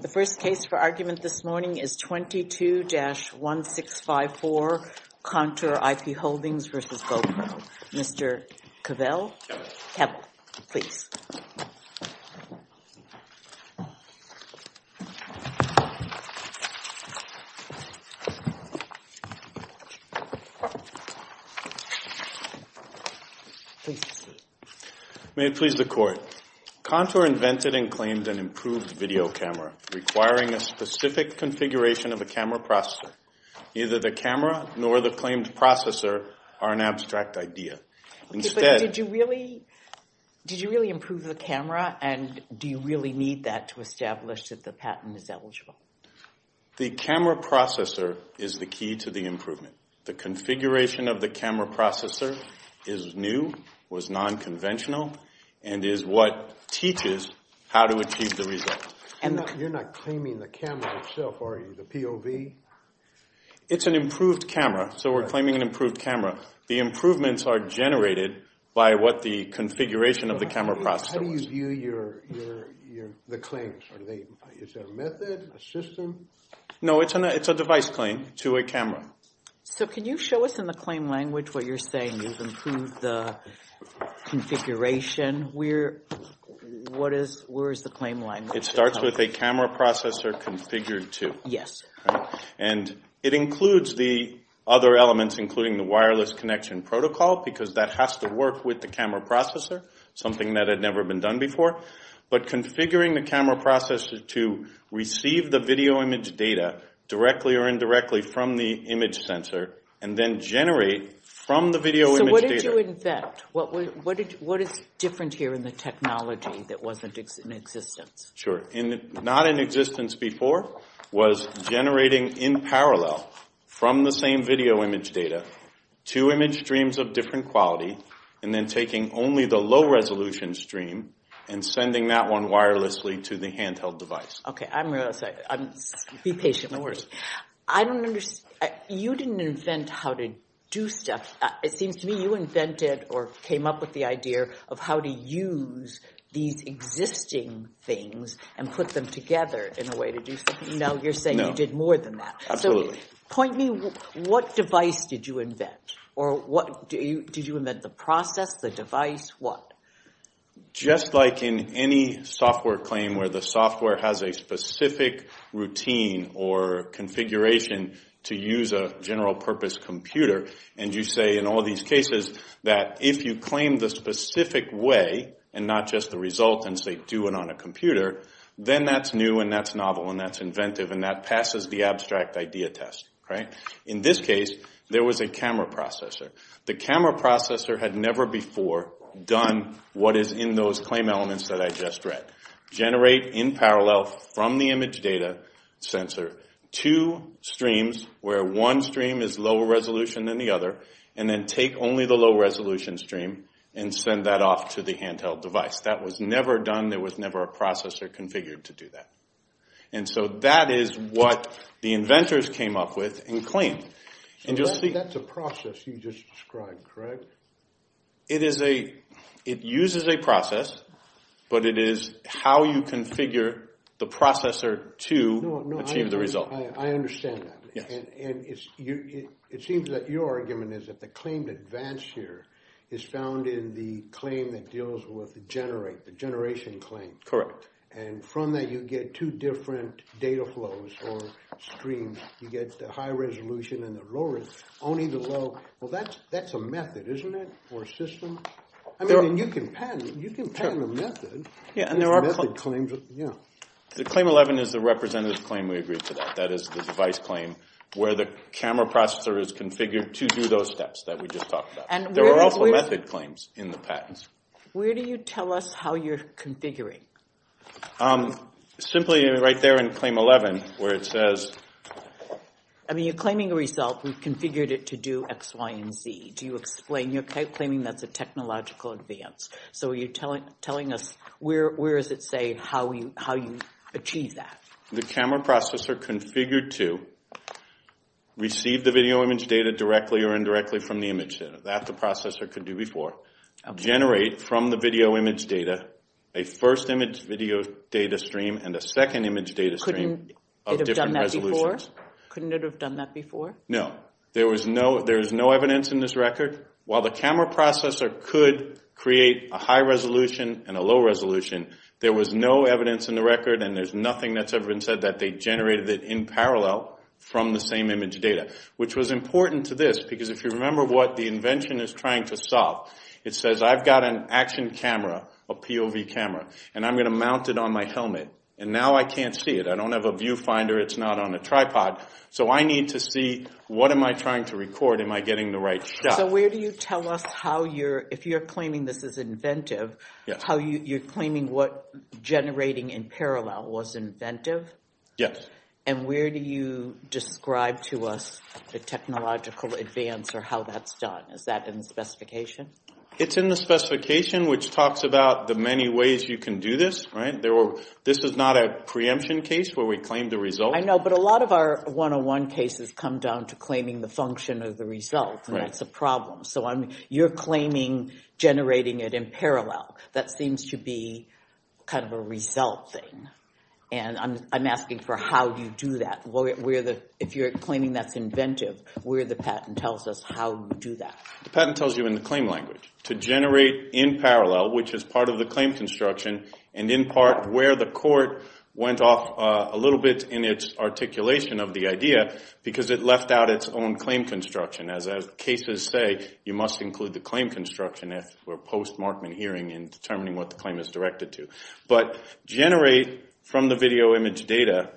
The first case for argument this morning is 22-1654 Contour IP Holdings v. GoPro. Mr. Cavill, please. May it please the Court. Contour invented and claimed an improved video camera requiring a specific configuration of a camera processor. Neither the camera nor the claimed processor are an abstract idea. Did you really improve the camera, and do you really need that to establish that the patent is eligible? The camera processor is the key to the improvement. The configuration of the camera processor is new, was nonconventional, and is what teaches how to achieve the result. You're not claiming the camera itself, are you, the POV? It's an improved camera, so we're claiming an improved camera. The improvements are generated by what the configuration of the camera processor was. How do you view the claims? Is there a method, a system? No, it's a device claim to a camera. So can you show us in the claim language what you're saying? You've improved the configuration. Where is the claim language? It starts with a camera processor configured to. Yes. And it includes the other elements, including the wireless connection protocol, because that has to work with the camera processor, something that had never been done before. But configuring the camera processor to receive the video image data directly or indirectly from the image sensor, and then generate from the video image data. So what did you invent? What is different here in the technology that wasn't in existence? Sure. Not in existence before was generating in parallel from the same video image data, two image streams of different quality, and then taking only the low resolution stream and sending that one wirelessly to the handheld device. Okay, I'm really sorry. Be patient with me. I don't understand. You didn't invent how to do stuff. It seems to me you invented or came up with the idea of how to use these existing things and put them together in a way to do something. No. Now you're saying you did more than that. Absolutely. So point me, what device did you invent? Or did you invent the process, the device, what? Just like in any software claim where the software has a specific routine or configuration to use a general purpose computer, and you say in all these cases that if you claim the specific way and not just the result and say do it on a computer, then that's new and that's novel and that's inventive and that passes the abstract idea test, right? In this case, there was a camera processor. The camera processor had never before done what is in those claim elements that I just read. Generate in parallel from the image data sensor two streams where one stream is lower resolution than the other and then take only the low resolution stream and send that off to the handheld device. That was never done. There was never a processor configured to do that. And so that is what the inventors came up with and claimed. That's a process you just described, correct? It is a – it uses a process, but it is how you configure the processor to achieve the result. I understand that. Yes. And it seems that your argument is that the claim to advance here is found in the claim that deals with generate, the generation claim. Correct. And from that, you get two different data flows or streams. You get the high resolution and the low resolution, only the low. Well, that's a method, isn't it, or a system? I mean, you can patent a method. Yeah, and there are claims. Yeah. The claim 11 is the representative claim we agreed to that. That is the device claim where the camera processor is configured to do those steps that we just talked about. There were also method claims in the patents. Where do you tell us how you're configuring? Simply right there in claim 11 where it says – I mean, you're claiming a result. We've configured it to do X, Y, and Z. Do you explain – you're claiming that's a technological advance. So are you telling us – where is it saying how you achieve that? The camera processor configured to receive the video image data directly or indirectly from the image. That the processor could do before. Generate from the video image data a first image video data stream and a second image data stream of different resolutions. Couldn't it have done that before? No. There is no evidence in this record. While the camera processor could create a high resolution and a low resolution, there was no evidence in the record and there's nothing that's ever been said that they generated it in parallel from the same image data, which was important to this because if you remember what the invention is trying to solve, it says I've got an action camera, a POV camera, and I'm going to mount it on my helmet. And now I can't see it. I don't have a viewfinder. It's not on a tripod. So I need to see what am I trying to record? Am I getting the right shot? So where do you tell us how you're – if you're claiming this is inventive, how you're claiming what generating in parallel was inventive? Yes. And where do you describe to us the technological advance or how that's done? Is that in the specification? It's in the specification, which talks about the many ways you can do this. This is not a preemption case where we claim the result. I know, but a lot of our 101 cases come down to claiming the function of the result, and that's a problem. So you're claiming generating it in parallel. That seems to be kind of a result thing. And I'm asking for how you do that. If you're claiming that's inventive, where the patent tells us how you do that. The patent tells you in the claim language to generate in parallel, which is part of the claim construction, and in part where the court went off a little bit in its articulation of the idea because it left out its own claim construction. As cases say, you must include the claim construction if we're post-Markman hearing in determining what the claim is directed to. But generate from the video image data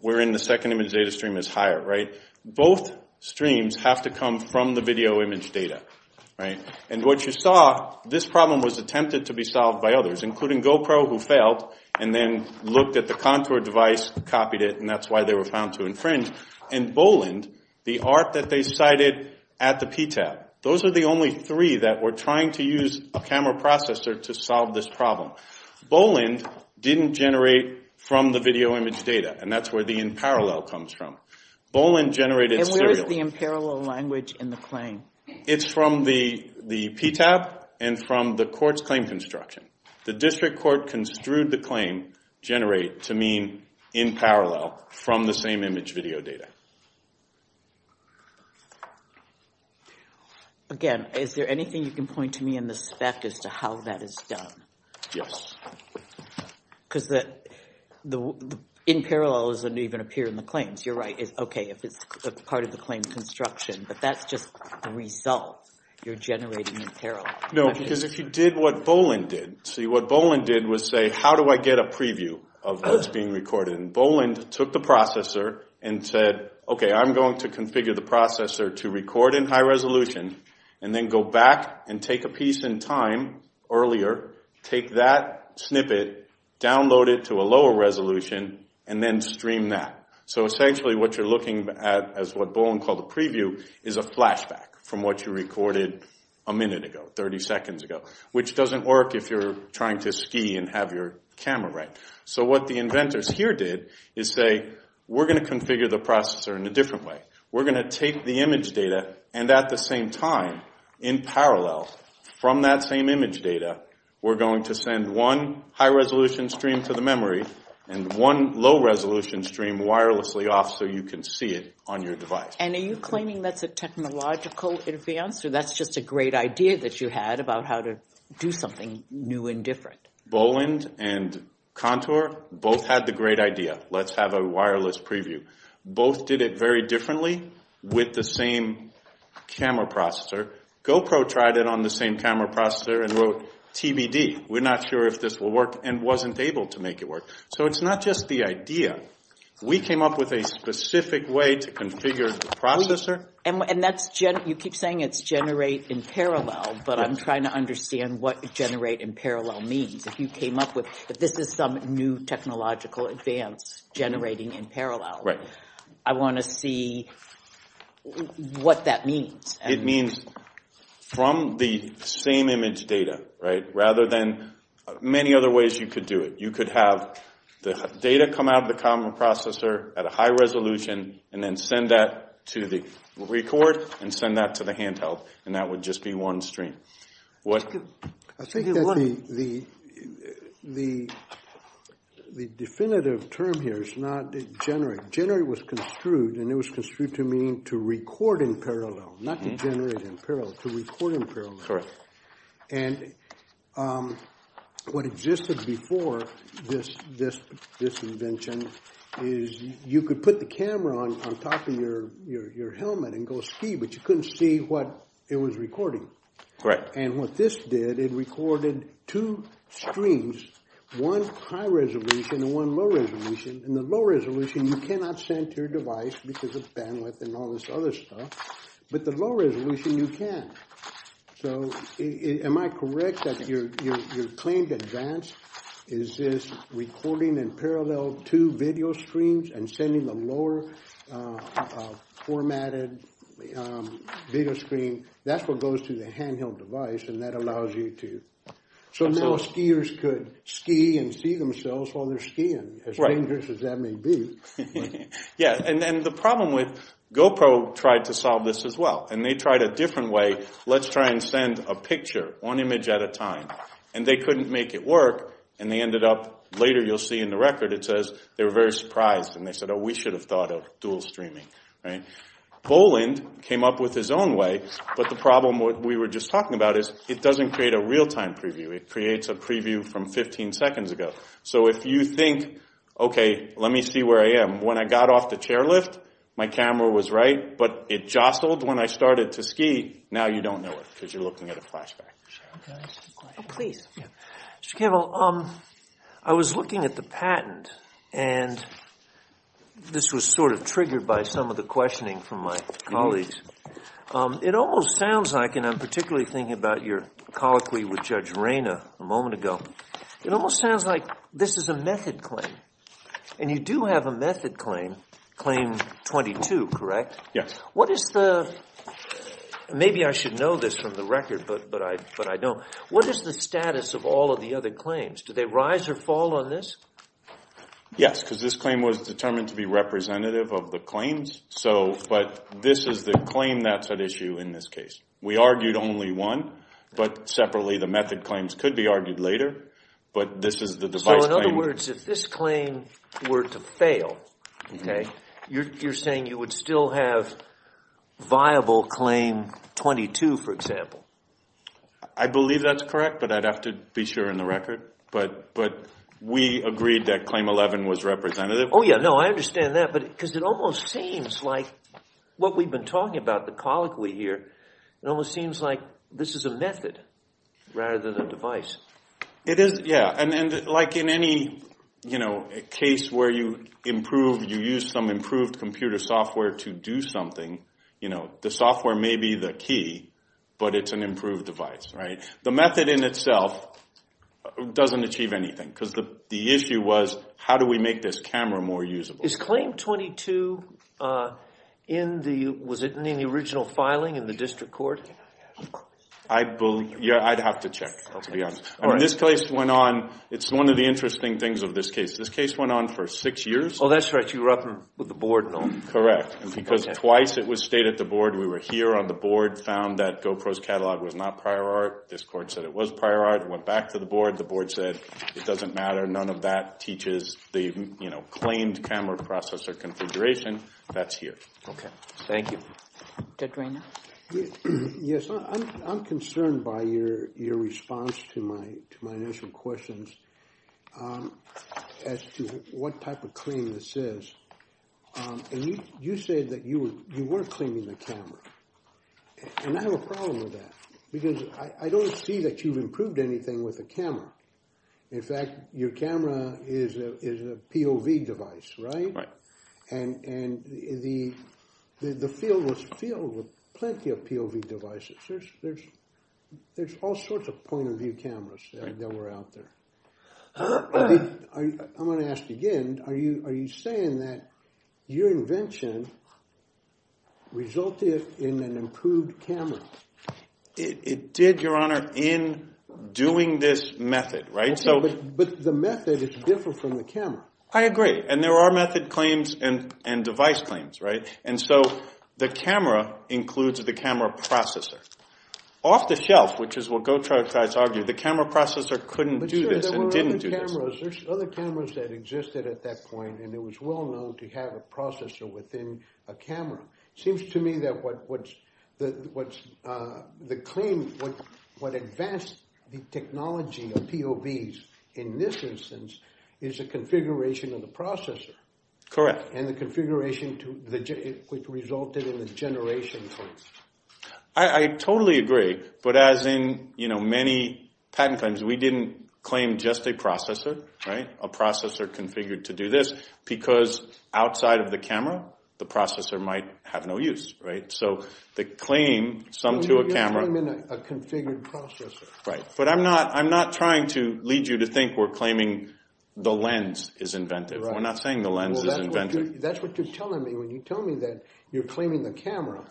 wherein the second image data stream is higher. Both streams have to come from the video image data. And what you saw, this problem was attempted to be solved by others, including GoPro, who failed, and then looked at the Contour device, copied it, and that's why they were found to infringe, and Boland, the ARC that they cited at the PTAB. Those are the only three that were trying to use a camera processor to solve this problem. Boland didn't generate from the video image data, and that's where the in parallel comes from. Boland generated serially. And where is the in parallel language in the claim? It's from the PTAB and from the court's claim construction. The district court construed the claim generate to mean in parallel from the same image video data. Again, is there anything you can point to me in the spec as to how that is done? Yes. Because the in parallel doesn't even appear in the claims. You're right, it's okay if it's part of the claim construction, No, because if you did what Boland did. See, what Boland did was say, how do I get a preview of what's being recorded? And Boland took the processor and said, okay, I'm going to configure the processor to record in high resolution and then go back and take a piece in time earlier, take that snippet, download it to a lower resolution, and then stream that. So essentially what you're looking at as what Boland called a preview is a flashback from what you recorded a minute ago, 30 seconds ago, which doesn't work if you're trying to ski and have your camera right. So what the inventors here did is say, we're going to configure the processor in a different way. We're going to take the image data and at the same time in parallel from that same image data, we're going to send one high resolution stream to the memory and one low resolution stream wirelessly off so you can see it on your device. And are you claiming that's a technological advance or that's just a great idea that you had about how to do something new and different? Boland and Contour both had the great idea. Let's have a wireless preview. Both did it very differently with the same camera processor. GoPro tried it on the same camera processor and wrote TBD. We're not sure if this will work and wasn't able to make it work. So it's not just the idea. We came up with a specific way to configure the processor. And you keep saying it's generate in parallel, but I'm trying to understand what generate in parallel means. If you came up with this is some new technological advance generating in parallel. Right. I want to see what that means. It means from the same image data, right, rather than many other ways you could do it. You could have the data come out of the camera processor at a high resolution and then send that to the record and send that to the handheld. And that would just be one stream. I think that the definitive term here is not generate. Generate was construed, and it was construed to mean to record in parallel, not to generate in parallel, to record in parallel. Correct. And what existed before this invention is you could put the camera on top of your helmet and go ski, but you couldn't see what it was recording. Correct. And what this did, it recorded two streams, one high resolution and one low resolution. And the low resolution, you cannot send to your device because of bandwidth and all this other stuff. But the low resolution, you can. So am I correct that your claim to advance is this recording in parallel to video streams and sending the lower formatted video screen? That's what goes to the handheld device, and that allows you to. So now skiers could ski and see themselves while they're skiing, as dangerous as that may be. Yeah, and the problem with GoPro tried to solve this as well. And they tried a different way. Let's try and send a picture, one image at a time. And they couldn't make it work, and they ended up, later you'll see in the record, it says they were very surprised. And they said, oh, we should have thought of dual streaming. Boland came up with his own way, but the problem we were just talking about is it doesn't create a real-time preview. It creates a preview from 15 seconds ago. So if you think, okay, let me see where I am. When I got off the chairlift, my camera was right, but it jostled when I started to ski. Now you don't know it because you're looking at a flashback. Oh, please. Mr. Campbell, I was looking at the patent, and this was sort of triggered by some of the questioning from my colleagues. It almost sounds like, and I'm particularly thinking about your colloquy with Judge Reyna a moment ago, it almost sounds like this is a method claim. And you do have a method claim, Claim 22, correct? Yes. What is the – maybe I should know this from the record, but I don't. What is the status of all of the other claims? Do they rise or fall on this? Yes, because this claim was determined to be representative of the claims, but this is the claim that's at issue in this case. We argued only one, but separately the method claims could be argued later, but this is the device claim. So in other words, if this claim were to fail, okay, you're saying you would still have viable Claim 22, for example? I believe that's correct, but I'd have to be sure in the record. But we agreed that Claim 11 was representative. Oh, yeah, no, I understand that, because it almost seems like what we've been talking about, the colloquy here, it almost seems like this is a method rather than a device. It is, yeah. And like in any case where you improve, you use some improved computer software to do something, the software may be the key, but it's an improved device, right? The method in itself doesn't achieve anything, because the issue was how do we make this camera more usable? Is Claim 22 in the – was it in the original filing in the district court? I'd have to check, to be honest. This case went on – it's one of the interesting things of this case. This case went on for six years. Oh, that's right. You were up with the board and all. Correct. Because twice it was stated at the board, we were here on the board, found that GoPro's catalog was not prior art. This court said it was prior art, went back to the board, the board said it doesn't matter, none of that teaches the claimed camera processor configuration. That's here. Okay. Thank you. Judge Rainer? Yes, I'm concerned by your response to my initial questions as to what type of claim this is. You said that you were claiming the camera, and I have a problem with that, because I don't see that you've improved anything with the camera. In fact, your camera is a POV device, right? Right. And the field was filled with plenty of POV devices. There's all sorts of point-of-view cameras that were out there. I'm going to ask again, are you saying that your invention resulted in an improved camera? It did, Your Honor, in doing this method, right? But the method is different from the camera. I agree. And there are method claims and device claims, right? And so the camera includes the camera processor. Off the shelf, which is what Gautreaux tries to argue, the camera processor couldn't do this and didn't do this. But, sir, there were other cameras. There's other cameras that existed at that point, and it was well known to have a processor within a camera. It seems to me that what advanced the technology of POVs in this instance is the configuration of the processor. Correct. And the configuration which resulted in the generation point. I totally agree. But as in, you know, many patent claims, we didn't claim just a processor, right? A processor configured to do this because outside of the camera, the processor might have no use, right? So the claim summed to a camera. You're claiming a configured processor. Right. But I'm not trying to lead you to think we're claiming the lens is inventive. We're not saying the lens is inventive. That's what you're telling me when you tell me that you're claiming the camera.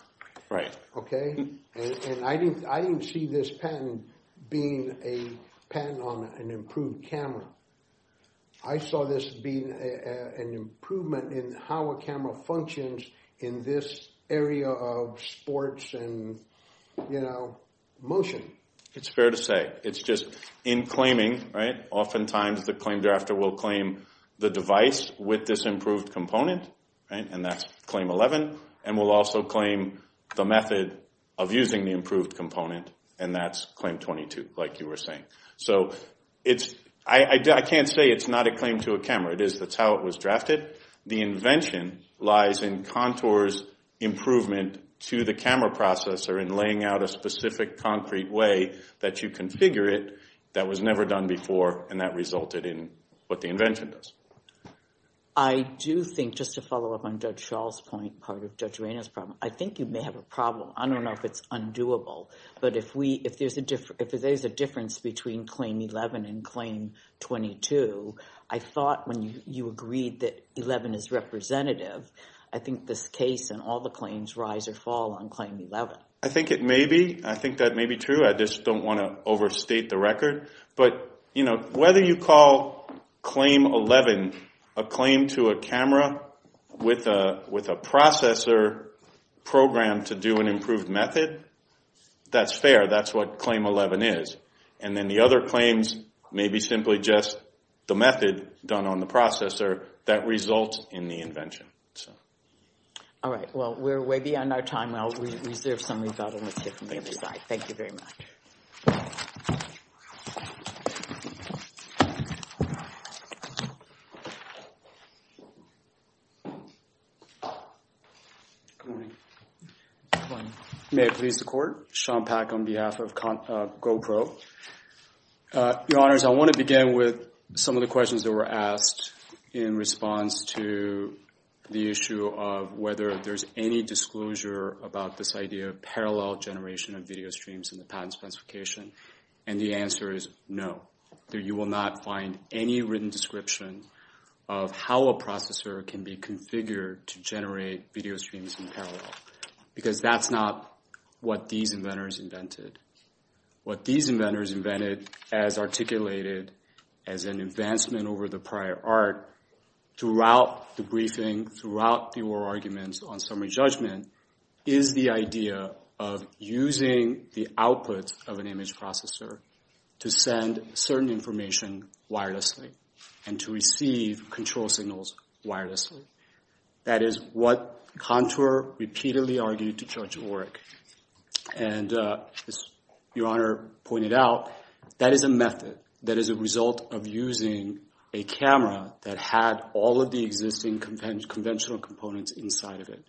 Right. Okay. And I didn't see this patent being a patent on an improved camera. I saw this being an improvement in how a camera functions in this area of sports and, you know, motion. It's fair to say. It's just in claiming, right, oftentimes the claim drafter will claim the device with this improved component. And that's claim 11. And we'll also claim the method of using the improved component. And that's claim 22, like you were saying. So I can't say it's not a claim to a camera. It is. That's how it was drafted. The invention lies in Contour's improvement to the camera processor in laying out a specific concrete way that you configure it that was never done before, and that resulted in what the invention does. I do think, just to follow up on Judge Shaw's point, part of Judge Reina's problem, I think you may have a problem. I don't know if it's undoable. But if there's a difference between claim 11 and claim 22, I thought when you agreed that 11 is representative, I think this case and all the claims rise or fall on claim 11. I think it may be. I think that may be true. I just don't want to overstate the record. But, you know, whether you call claim 11 a claim to a camera with a processor program to do an improved method, that's fair. That's what claim 11 is. And then the other claims may be simply just the method done on the processor that results in the invention. All right. Well, we're way beyond our time. I'll reserve some rebuttal and let's hear from the other side. Thank you very much. Good morning. Good morning. May it please the Court. Sean Pack on behalf of GoPro. Your Honors, I want to begin with some of the questions that were asked in response to the issue of whether there's any disclosure about this idea of parallel generation of video streams in the patent specification. And the answer is no. You will not find any written description of how a processor can be configured to generate video streams in parallel. Because that's not what these inventors invented. What these inventors invented as articulated as an advancement over the prior art throughout the briefing, throughout the oral arguments on summary judgment, is the idea of using the output of an image processor to send certain information wirelessly and to receive control signals wirelessly. That is what Contour repeatedly argued to Judge Orrick. And as Your Honor pointed out, that is a method that is a result of using a camera that had all of the existing conventional components inside of it.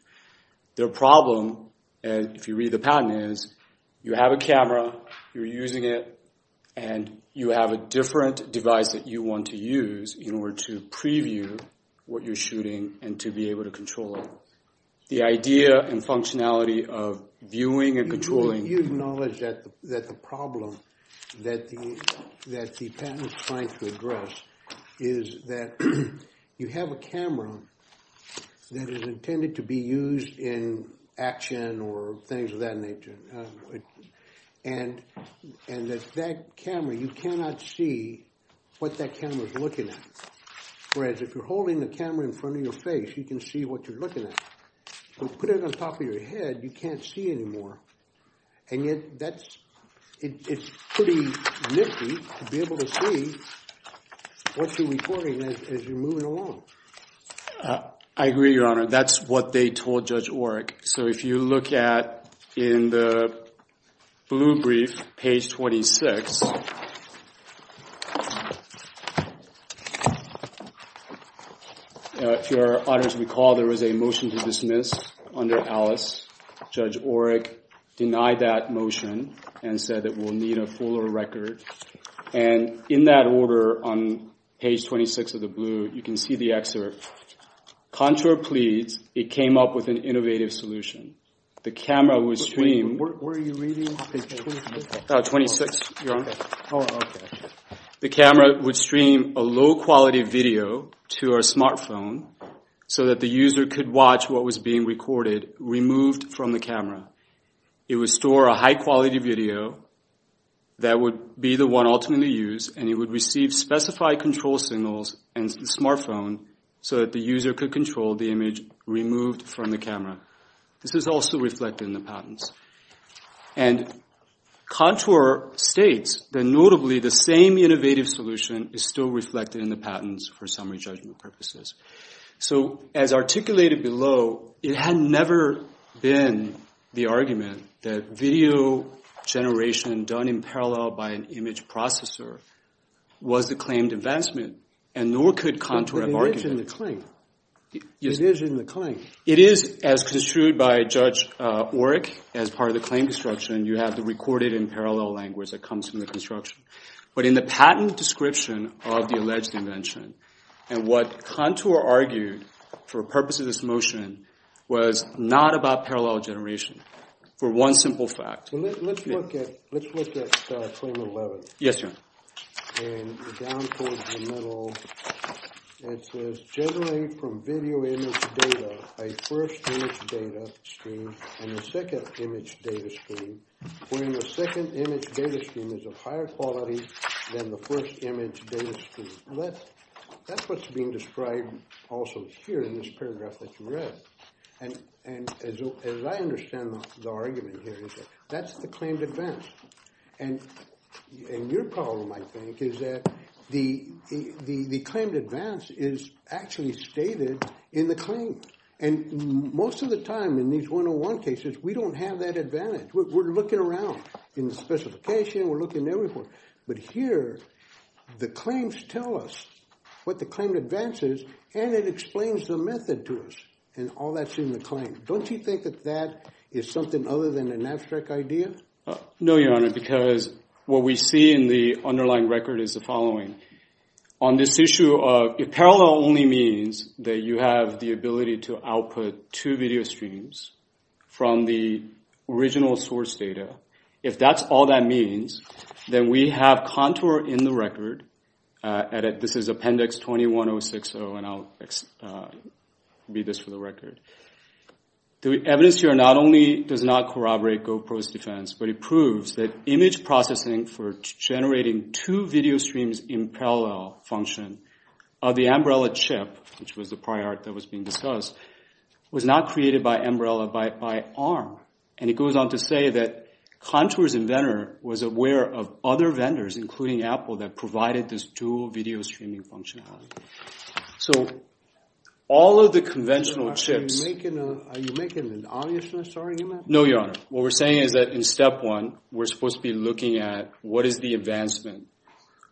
Their problem, if you read the patent, is you have a camera, you're using it, and you have a different device that you want to use in order to preview what you're shooting and to be able to control it. The idea and functionality of viewing and controlling... You acknowledge that the problem that the patent is trying to address is that you have a camera that is intended to be used in action or things of that nature. And that that camera, you cannot see what that camera is looking at. Whereas if you're holding the camera in front of your face, you can see what you're looking at. If you put it on top of your head, you can't see anymore. And yet, it's pretty nifty to be able to see what you're recording as you're moving along. I agree, Your Honor. That's what they told Judge Orrick. So if you look at, in the blue brief, page 26, if Your Honors recall, there was a motion to dismiss under Alice. Judge Orrick denied that motion and said that we'll need a fuller record. And in that order, on page 26 of the blue, you can see the excerpt. Contour pleads it came up with an innovative solution. The camera would stream... Where are you reading? Page 26, Your Honor. The camera would stream a low-quality video to our smartphone so that the user could watch what was being recorded, removed from the camera. It would store a high-quality video that would be the one ultimately used, and it would receive specified control signals and the smartphone so that the user could control the image removed from the camera. This is also reflected in the patents. And Contour states that, notably, the same innovative solution is still reflected in the patents for summary judgment purposes. So as articulated below, it had never been the argument that video generation done in parallel by an image processor was the claimed investment, and nor could Contour have argued it. But it is in the claim. It is in the claim. It is, as construed by Judge Orrick, as part of the claim construction. You have the recorded in parallel language that comes from the construction. But in the patent description of the alleged invention, and what Contour argued for purposes of this motion was not about parallel generation for one simple fact. Let's look at claim 11. Yes, Your Honor. And down towards the middle, it says, generated from video image data, a first image data stream and a second image data stream, wherein the second image data stream is of higher quality than the first image data stream. That's what's being described also here in this paragraph that you read. And as I understand the argument here, that's the claimed advance. And your problem, I think, is that the claimed advance is actually stated in the claim. And most of the time in these 101 cases, we don't have that advantage. We're looking around in the specification. We're looking everywhere. But here, the claims tell us what the claimed advance is, and it explains the method to us. And all that's in the claim. Don't you think that that is something other than an abstract idea? No, Your Honor, because what we see in the underlying record is the following. On this issue of parallel only means that you have the ability to output two video streams from the original source data. If that's all that means, then we have contour in the record. This is Appendix 21060, and I'll read this for the record. The evidence here not only does not corroborate GoPro's defense, but it proves that image processing for generating two video streams in parallel function of the umbrella chip, which was the prior art that was being discussed, was not created by umbrella by ARM. And it goes on to say that Contour's inventor was aware of other vendors, including Apple, that provided this dual video streaming functionality. So all of the conventional chips— Are you making an obviousness, sorry? No, Your Honor. What we're saying is that in Step 1, we're supposed to be looking at what is the advancement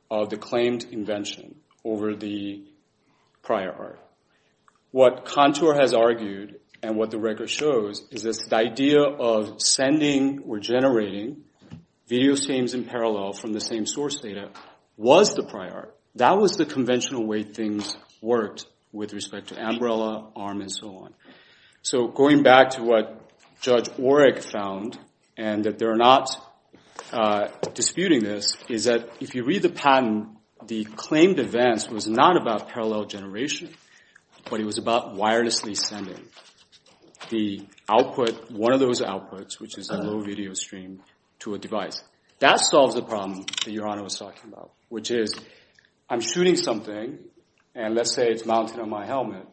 of the claimed invention over the prior art. What Contour has argued and what the record shows is this idea of sending or generating video streams in parallel from the same source data was the prior art. That was the conventional way things worked with respect to umbrella, ARM, and so on. So going back to what Judge Orrick found, and that they're not disputing this, is that if you read the patent, the claimed advance was not about parallel generation, but it was about wirelessly sending the output, one of those outputs, which is a low video stream, to a device. That solves the problem that Your Honor was talking about, which is I'm shooting something, and let's say it's mounted on my helmet.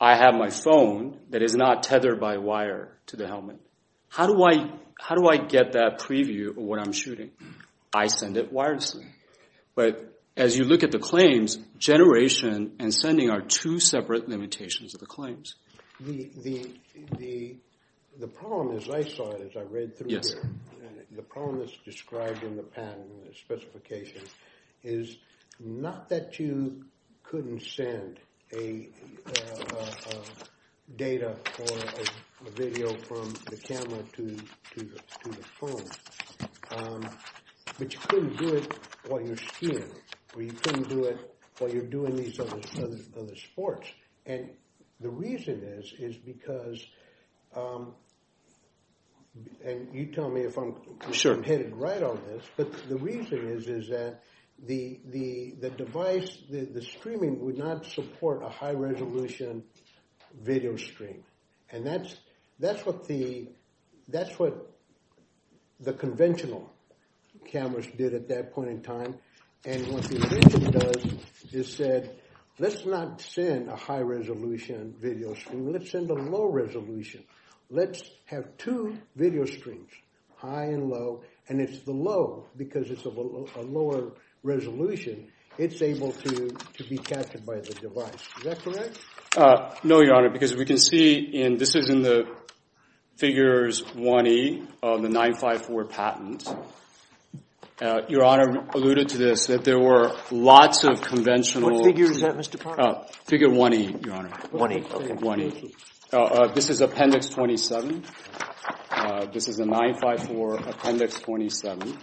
I have my phone that is not tethered by wire to the helmet. How do I get that preview of what I'm shooting? I send it wirelessly. But as you look at the claims, generation and sending are two separate limitations of the claims. The problem, as I saw it, as I read through it, the problem that's described in the patent, the specification, is not that you couldn't send data or video from the camera to the phone, but you couldn't do it while you're skiing, or you couldn't do it while you're doing these other sports. And the reason is, is because, and you tell me if I'm headed right on this, but the reason is, is that the device, the streaming would not support a high-resolution video stream. And that's what the conventional cameras did at that point in time. And what the addition does is said, let's not send a high-resolution video stream. Let's send a low-resolution. Let's have two video streams, high and low. And it's the low because it's a lower resolution. It's able to be captured by the device. Is that correct? No, Your Honor, because we can see, and this is in the figures 1E of the 954 patent. Your Honor alluded to this, that there were lots of conventional. What figure is that, Mr. Parker? Figure 1E, Your Honor. 1E, okay. 1E. This is Appendix 27. This is a 954 Appendix 27.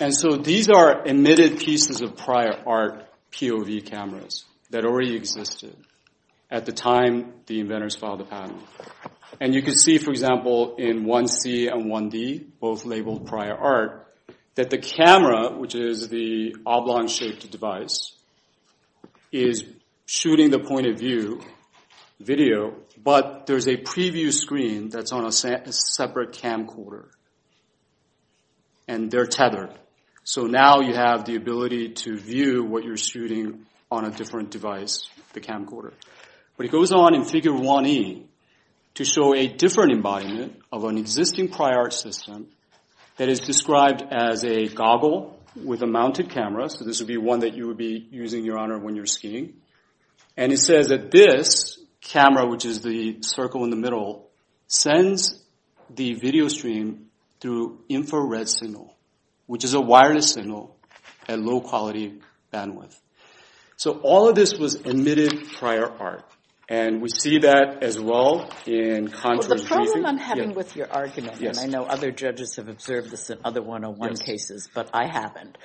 And so these are emitted pieces of prior art POV cameras that already existed at the time the inventors filed the patent. And you can see, for example, in 1C and 1D, both labeled prior art, that the camera, which is the oblong-shaped device, is shooting the point-of-view video. But there's a preview screen that's on a separate camcorder, and they're tethered. So now you have the ability to view what you're shooting on a different device, the camcorder. But it goes on in figure 1E to show a different embodiment of an existing prior art system that is described as a goggle with a mounted camera. So this would be one that you would be using, Your Honor, when you're skiing. And it says that this camera, which is the circle in the middle, sends the video stream through infrared signal, which is a wireless signal at low-quality bandwidth. So all of this was emitted prior art. And we see that as well in contours. Well, the problem I'm having with your argument, and I know other judges have observed this in other 101 cases, but I haven't,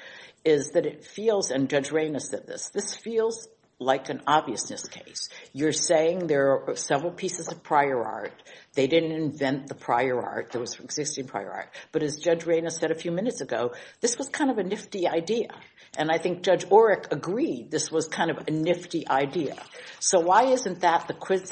is that it feels, and Judge Rayna said this, this feels like an obviousness case. You're saying there are several pieces of prior art. They didn't invent the prior art that was existing prior art. But as Judge Rayna said a few minutes ago, this was kind of a nifty idea. And I think Judge Orrick agreed this was kind of a nifty idea. So why isn't that the quid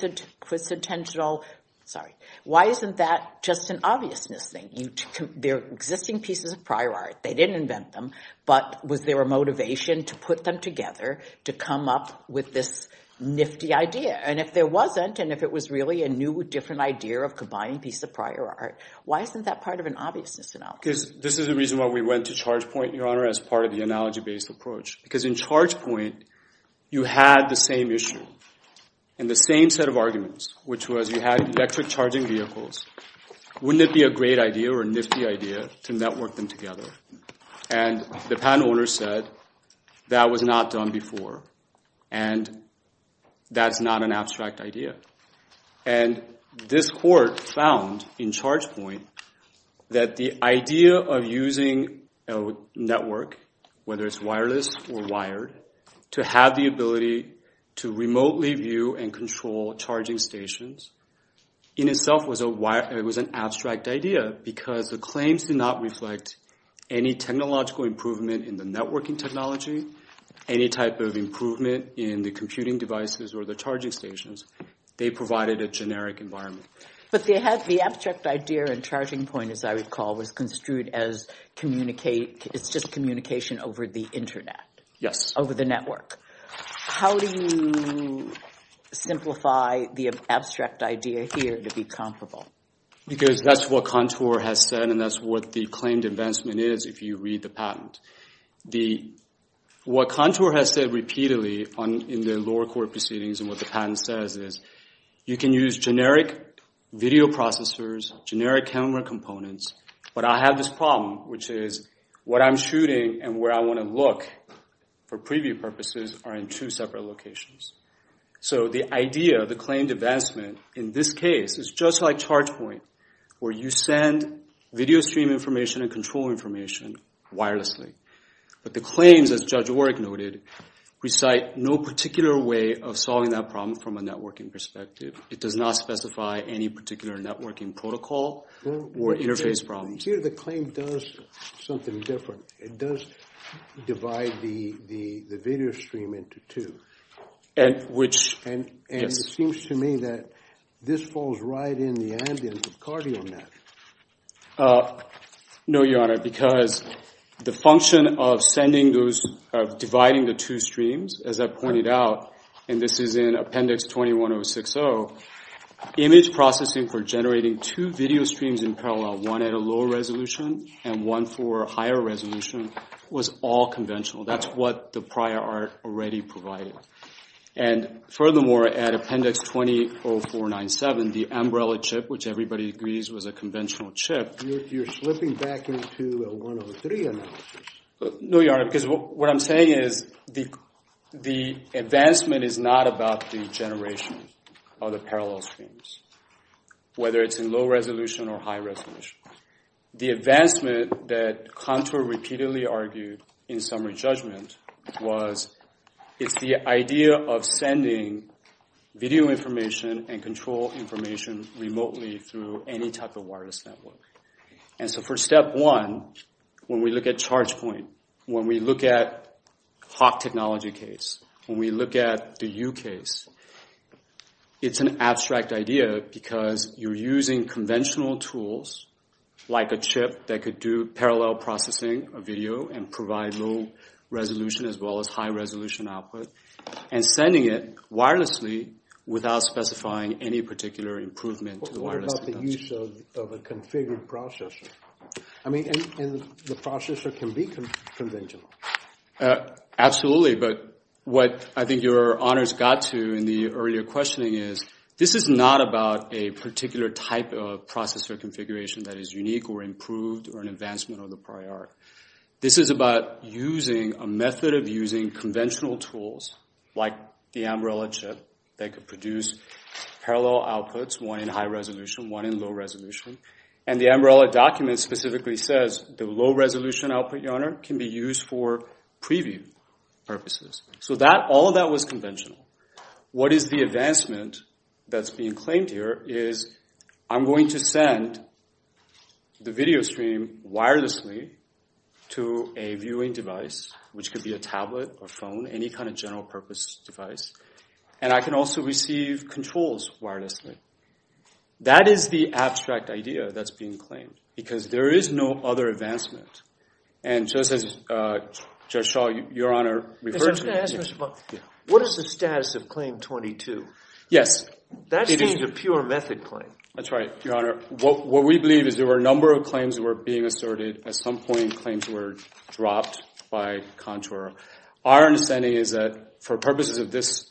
centennial – sorry. Why isn't that just an obviousness thing? There are existing pieces of prior art. They didn't invent them. But was there a motivation to put them together to come up with this nifty idea? And if there wasn't, and if it was really a new, different idea of combining pieces of prior art, why isn't that part of an obviousness analysis? This is the reason why we went to Chargepoint, Your Honor, as part of the analogy-based approach. Because in Chargepoint, you had the same issue and the same set of arguments, which was you had electric charging vehicles. Wouldn't it be a great idea or a nifty idea to network them together? And the patent owner said that was not done before, and that's not an abstract idea. And this court found in Chargepoint that the idea of using a network, whether it's wireless or wired, to have the ability to remotely view and control charging stations in itself was an abstract idea because the claims do not reflect any technological improvement in the networking technology, any type of improvement in the computing devices or the charging stations. They provided a generic environment. But the abstract idea in Chargingpoint, as I recall, was construed as it's just communication over the Internet. Yes. Over the network. How do you simplify the abstract idea here to be comparable? Because that's what Contour has said, and that's what the claimed advancement is if you read the patent. What Contour has said repeatedly in the lower court proceedings and what the patent says is you can use generic video processors, generic camera components, but I have this problem, which is what I'm shooting and where I want to look for preview purposes are in two separate locations. So the idea of the claimed advancement in this case is just like Chargepoint, where you send video stream information and control information wirelessly. But the claims, as Judge Warrick noted, recite no particular way of solving that problem from a networking perspective. It does not specify any particular networking protocol or interface problem. Here the claim does something different. It does divide the video stream into two. Which, yes. It seems to me that this falls right in the ambience of Carty on that. No, Your Honor, because the function of sending those, of dividing the two streams, as I pointed out, and this is in Appendix 21060, image processing for generating two video streams in parallel, one at a lower resolution and one for a higher resolution, was all conventional. That's what the prior art already provided. And furthermore, at Appendix 200497, the umbrella chip, which everybody agrees was a conventional chip. You're slipping back into a 103 analysis. No, Your Honor, because what I'm saying is the advancement is not about the generation of the parallel streams, whether it's in low resolution or high resolution. The advancement that Contour repeatedly argued in summary judgment was it's the idea of sending video information and control information remotely through any type of wireless network. And so for step one, when we look at ChargePoint, when we look at Hawk Technology case, when we look at the U case, it's an abstract idea because you're using conventional tools like a chip that could do parallel processing of video and provide low resolution as well as high resolution output and sending it wirelessly without specifying any particular improvement to the wireless connection. What about the use of a configured processor? I mean, and the processor can be conventional. Absolutely. But what I think Your Honor's got to in the earlier questioning is this is not about a particular type of processor configuration that is unique or improved or an advancement of the prior art. This is about using a method of using conventional tools like the umbrella chip that could produce parallel outputs, one in high resolution, one in low resolution. And the umbrella document specifically says the low resolution output, Your Honor, can be used for preview purposes. So that all of that was conventional. What is the advancement that's being claimed here is I'm going to send the video stream wirelessly to a viewing device, which could be a tablet or phone, any kind of general purpose device. And I can also receive controls wirelessly. That is the abstract idea that's being claimed because there is no other advancement. And just as Judge Shaw, Your Honor, referred to. What is the status of Claim 22? Yes. That seems a pure method claim. That's right, Your Honor. What we believe is there were a number of claims that were being asserted. At some point, claims were dropped by contour. Our understanding is that for purposes of this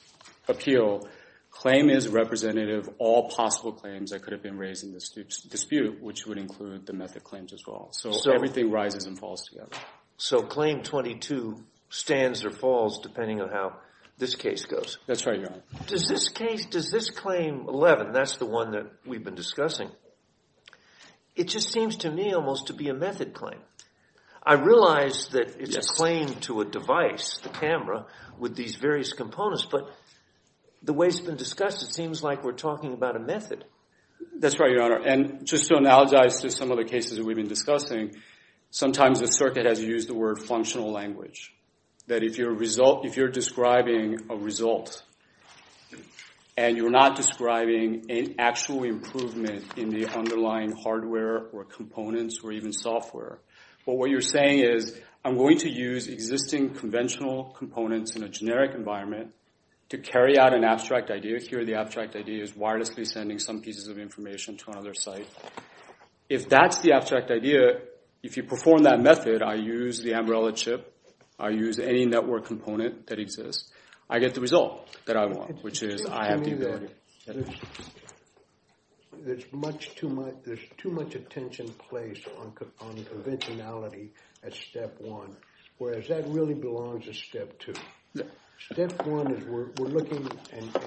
appeal, claim is representative of all possible claims that could have been raised in this dispute, which would include the method claims as well. So everything rises and falls together. So Claim 22 stands or falls depending on how this case goes. That's right, Your Honor. Does this case, does this Claim 11, that's the one that we've been discussing, it just seems to me almost to be a method claim. I realize that it's a claim to a device, the camera, with these various components. But the way it's been discussed, it seems like we're talking about a method. That's right, Your Honor. And just to analogize to some of the cases that we've been discussing, sometimes the circuit has used the word functional language. That if you're describing a result and you're not describing an actual improvement in the underlying hardware or components or even software, what you're saying is I'm going to use existing conventional components in a generic environment to carry out an abstract idea. Here the abstract idea is wirelessly sending some pieces of information to another site. If that's the abstract idea, if you perform that method, I use the Ambrella chip, I use any network component that exists, I get the result that I want, which is I have the ability. There's too much attention placed on conventionality at Step 1, whereas that really belongs to Step 2. Step 1 is we're looking and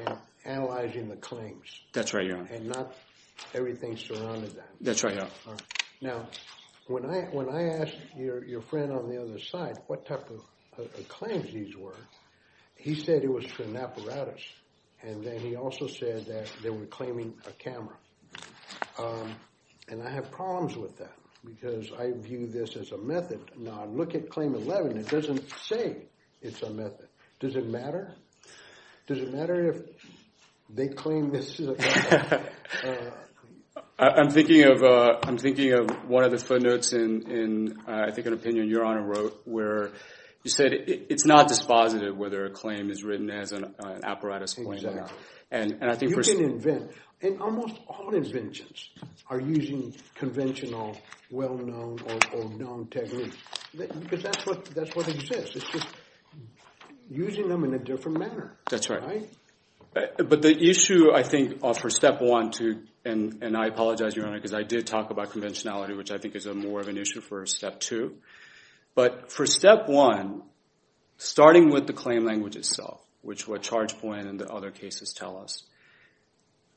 analyzing the claims. That's right, Your Honor. And not everything's surrounded that. That's right, Your Honor. Now, when I asked your friend on the other side what type of claims these were, he said it was for an apparatus. And then he also said that they were claiming a camera. And I have problems with that because I view this as a method. Now, look at Claim 11. It doesn't say it's a method. Does it matter? Does it matter if they claim this is a method? I'm thinking of one of the footnotes in, I think, an opinion Your Honor wrote, where you said it's not dispositive whether a claim is written as an apparatus claim or not. Exactly. And I think we're— You can invent, and almost all inventions are using conventional, well-known or known techniques. Because that's what exists. It's just using them in a different manner. That's right. But the issue, I think, for Step 1 to—and I apologize, Your Honor, because I did talk about conventionality, which I think is more of an issue for Step 2. But for Step 1, starting with the claim language itself, which what Chargepoint and the other cases tell us,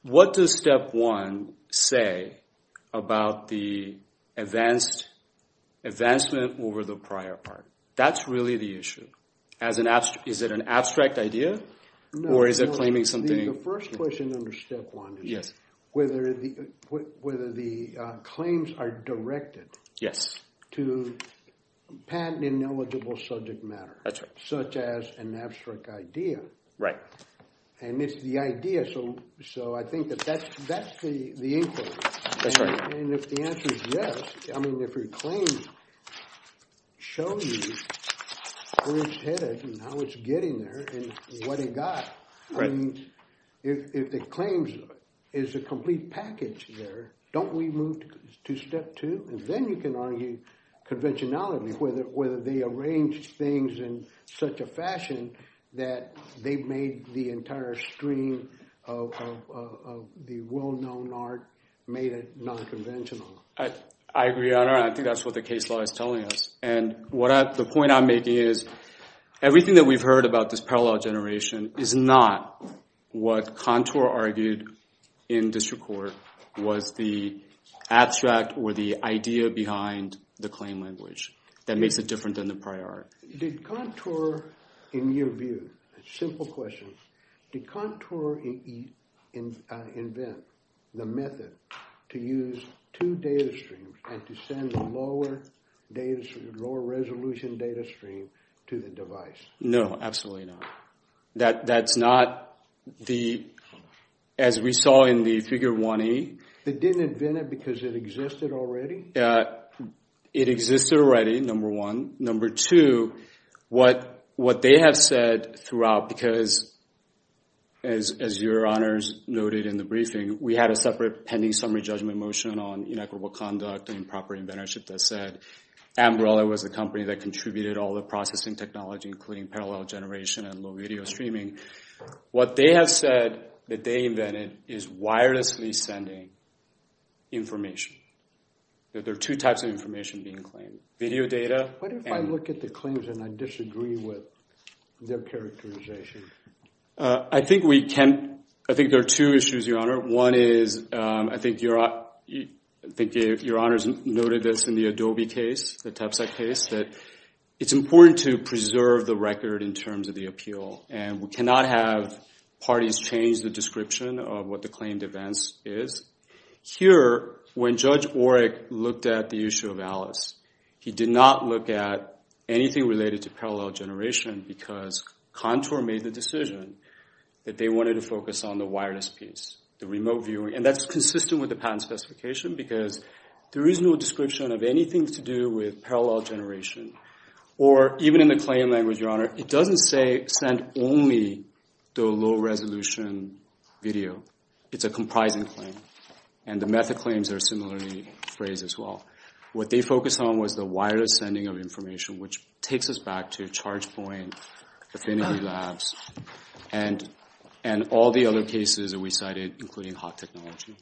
what does Step 1 say about the advancement over the prior part? That's really the issue. Is it an abstract idea, or is it claiming something— No, no. The first question under Step 1 is whether the claims are directed to patent-ineligible subject matter. That's right. Such as an abstract idea. Right. And it's the idea, so I think that that's the inquiry. That's right. And if the answer is yes, I mean, if a claim shows you where it's headed and how it's getting there and what it got, I mean, if the claim is a complete package there, don't we move to Step 2? And then you can argue conventionality, whether they arrange things in such a fashion that they've made the entire stream of the well-known art, made it nonconventional. I agree, Your Honor, and I think that's what the case law is telling us. And the point I'm making is everything that we've heard about this parallel generation is not what Contour argued in district court was the abstract or the idea behind the claim language that makes it different than the prior art. Did Contour, in your view, simple question, did Contour invent the method to use two data streams and to send the lower resolution data stream to the device? No, absolutely not. That's not the, as we saw in the Figure 1e. They didn't invent it because it existed already? It existed already, number one. Number two, what they have said throughout, because as Your Honors noted in the briefing, we had a separate pending summary judgment motion on inequitable conduct and improper inventorship that said Ambrella was the company that contributed all the processing technology, including parallel generation and low video streaming. What they have said that they invented is wirelessly sending information, that there are two types of information being claimed, video data. What if I look at the claims and I disagree with their characterization? I think we can. I think there are two issues, Your Honor. One is I think Your Honors noted this in the Adobe case, the TEPC case, that it's important to preserve the record in terms of the appeal, and we cannot have parties change the description of what the claimed events is. Here, when Judge Orrick looked at the issue of Alice, he did not look at anything related to parallel generation because Contour made the decision that they wanted to focus on the wireless piece, the remote viewing, and that's consistent with the patent specification because there is no description of anything to do with parallel generation. Or even in the claim language, Your Honor, it doesn't say send only the low-resolution video. It's a comprising claim, and the method claims are similarly phrased as well. What they focused on was the wireless sending of information, which takes us back to ChargePoint, Affinity Labs, and all the other cases that we cited, including Hawk Technology.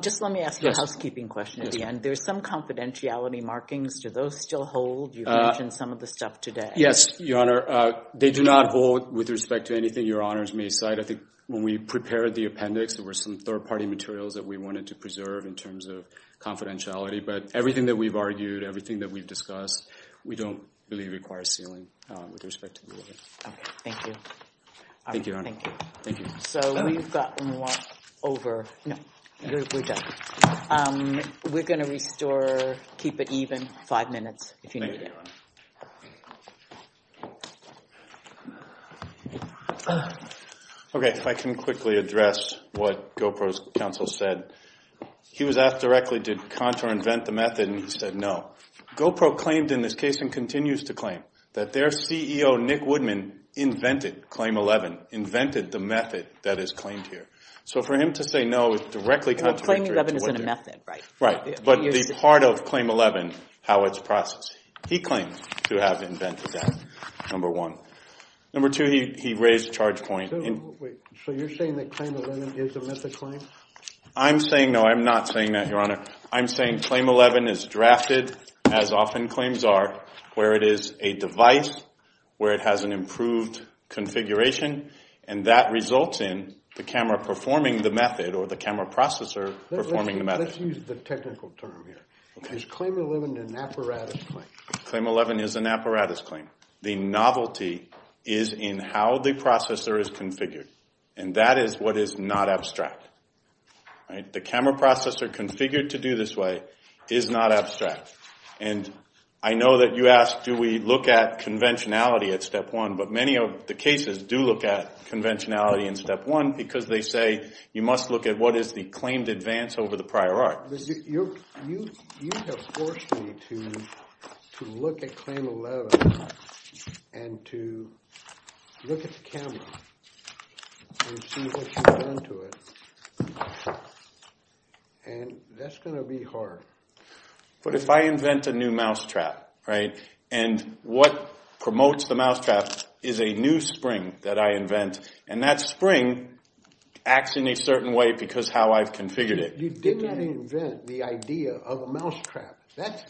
Just let me ask a housekeeping question at the end. There's some confidentiality markings. Do those still hold? You mentioned some of the stuff today. Yes, Your Honor. They do not hold with respect to anything Your Honors may cite. I think when we prepared the appendix, there were some third-party materials that we wanted to preserve in terms of confidentiality, but everything that we've argued, everything that we've discussed, we don't believe requires sealing with respect to the order. Okay. Thank you. Thank you, Your Honor. Thank you. Thank you. So we've got one more over. No, we're done. We're going to restore, keep it even, five minutes if you need it. Thank you, Your Honor. Okay, if I can quickly address what GoPro's counsel said. He was asked directly, did Contour invent the method, and he said no. GoPro claimed in this case and continues to claim that their CEO, Nick Woodman, invented Claim 11, invented the method that is claimed here. So for him to say no is directly contradictory. Claim 11 isn't a method, right? Right, but the part of Claim 11, how it's processed, he claims to have invented that, number one. Number two, he raised a charge point. So you're saying that Claim 11 is a method claim? I'm saying, no, I'm not saying that, Your Honor. I'm saying Claim 11 is drafted, as often claims are, where it is a device, where it has an improved configuration, and that results in the camera performing the method or the camera processor performing the method. Let's use the technical term here. Is Claim 11 an apparatus claim? Claim 11 is an apparatus claim. The novelty is in how the processor is configured, and that is what is not abstract. The camera processor configured to do this way is not abstract. And I know that you asked do we look at conventionality at Step 1, but many of the cases do look at conventionality in Step 1 because they say you must look at what is the claimed advance over the prior art. You have forced me to look at Claim 11 and to look at the camera and see what you've done to it, and that's going to be hard. But if I invent a new mousetrap, right, and what promotes the mousetrap is a new spring that I invent, and that spring acts in a certain way because how I've configured it. You did not invent the idea of a mousetrap.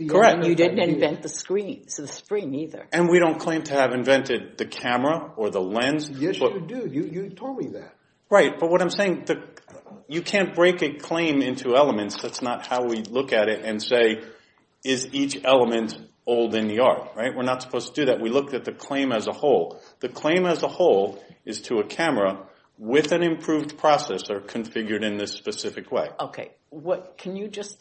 Correct. You didn't invent the screen, so the spring either. And we don't claim to have invented the camera or the lens. Yes, you do. You told me that. Right. But what I'm saying, you can't break a claim into elements. That's not how we look at it and say is each element old in the art, right? We're not supposed to do that. We looked at the claim as a whole. The claim as a whole is to a camera with an improved processor configured in this specific way. Okay. Can you just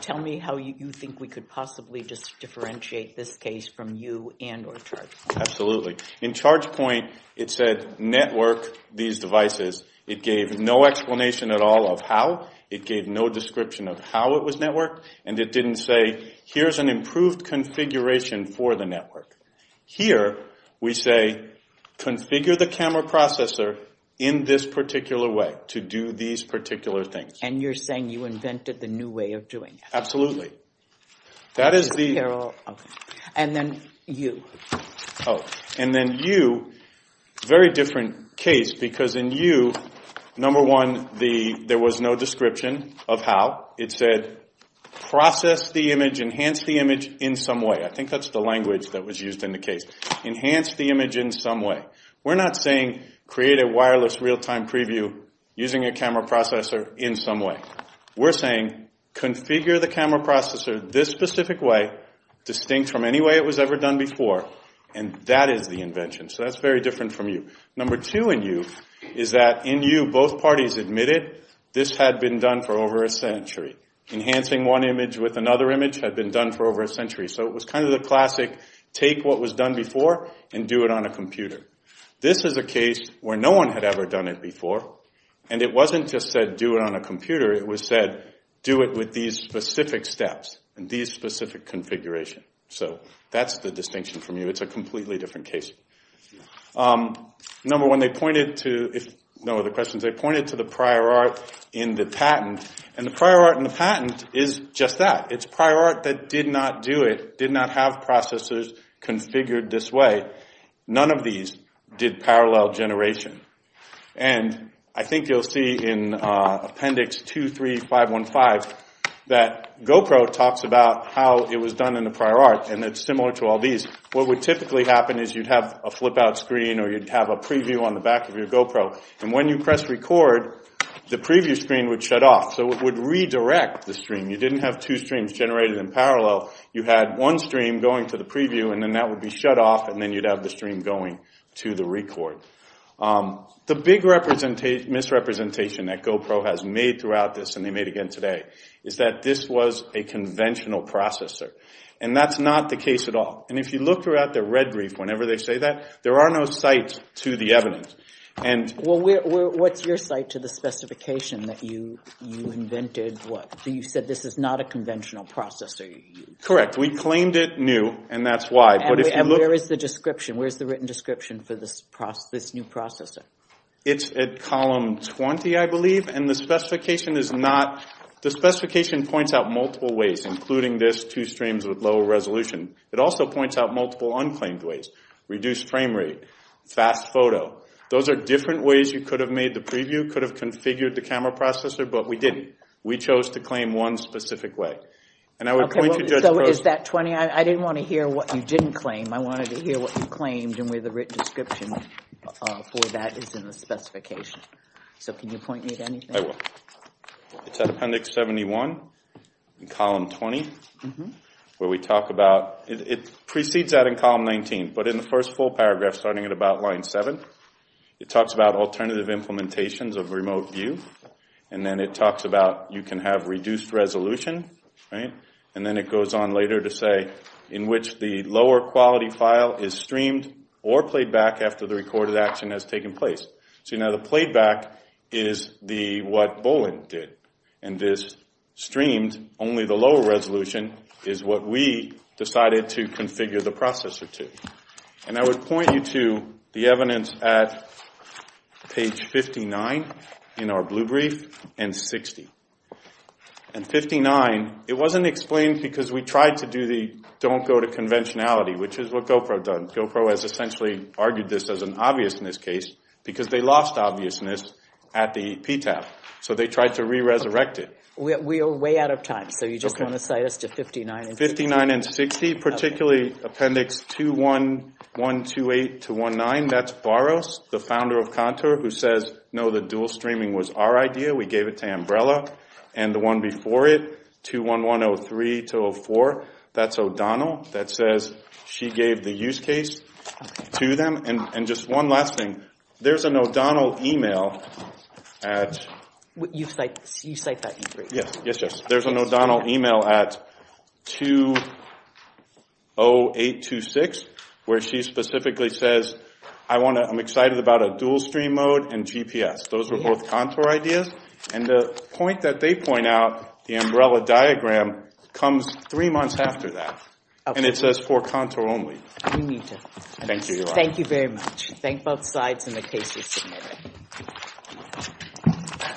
tell me how you think we could possibly just differentiate this case from you and or ChargePoint? Absolutely. In ChargePoint, it said network these devices. It gave no explanation at all of how. It gave no description of how it was networked, and it didn't say here's an improved configuration for the network. Here, we say configure the camera processor in this particular way to do these particular things. And you're saying you invented the new way of doing it. Absolutely. That is the… And then you. And then you, very different case because in you, number one, there was no description of how. It said process the image, enhance the image in some way. I think that's the language that was used in the case. Enhance the image in some way. We're not saying create a wireless real-time preview using a camera processor in some way. We're saying configure the camera processor this specific way distinct from any way it was ever done before, and that is the invention. So that's very different from you. Number two in you is that in you, both parties admitted this had been done for over a century. Enhancing one image with another image had been done for over a century. So it was kind of the classic take what was done before and do it on a computer. This is a case where no one had ever done it before, and it wasn't just said do it on a computer. It was said do it with these specific steps and these specific configuration. So that's the distinction from you. It's a completely different case. Number one, they pointed to… No other questions. They pointed to the prior art in the patent, and the prior art in the patent is just that. It's prior art that did not do it, did not have processors configured this way. None of these did parallel generation. And I think you'll see in appendix 23515 that GoPro talks about how it was done in the prior art, and it's similar to all these. What would typically happen is you'd have a flip-out screen or you'd have a preview on the back of your GoPro, and when you press record, the preview screen would shut off. So it would redirect the stream. You didn't have two streams generated in parallel. You had one stream going to the preview, and then that would be shut off, and then you'd have the stream going to the record. The big misrepresentation that GoPro has made throughout this, and they made again today, is that this was a conventional processor, and that's not the case at all. And if you look throughout the red brief, whenever they say that, there are no sites to the evidence. Well, what's your site to the specification that you invented? You said this is not a conventional processor. Correct. We claimed it new, and that's why. And where is the written description for this new processor? It's at column 20, I believe, and the specification points out multiple ways, including this two streams with low resolution. It also points out multiple unclaimed ways, reduced frame rate, fast photo. Those are different ways you could have made the preview, could have configured the camera processor, but we didn't. We chose to claim one specific way. So is that 20? I didn't want to hear what you didn't claim. I wanted to hear what you claimed and where the written description for that is in the specification. So can you point me to anything? I will. It's at appendix 71, column 20, where we talk about, it precedes that in column 19, but in the first full paragraph, starting at about line 7, it talks about alternative implementations of remote view, and then it talks about you can have reduced resolution, and then it goes on later to say in which the lower quality file is streamed or played back after the recorded action has taken place. So now the played back is what Bolin did, and this streamed, only the lower resolution, is what we decided to configure the processor to. And I would point you to the evidence at page 59 in our blue brief and 60. And 59, it wasn't explained because we tried to do the don't go to conventionality, which is what GoPro has done. GoPro has essentially argued this as an obviousness case because they lost obviousness at the PTAP, so they tried to re-resurrect it. We are way out of time, so you just want to cite us to 59 and 60? The PTAP particularly, appendix 21128-19, that's Varos, the founder of Contour, who says, no, the dual streaming was our idea. We gave it to Umbrella. And the one before it, 21103-04, that's O'Donnell. That says she gave the use case to them. And just one last thing, there's an O'Donnell email at... You cite that E3? Yes, yes, yes. There's an O'Donnell email at 20826, where she specifically says, I'm excited about a dual stream mode and GPS. Those were both Contour ideas. And the point that they point out, the Umbrella diagram, comes three months after that. And it says for Contour only. We need to. Thank you, Yolanda. Thank you very much. Thank both sides and the cases submitted.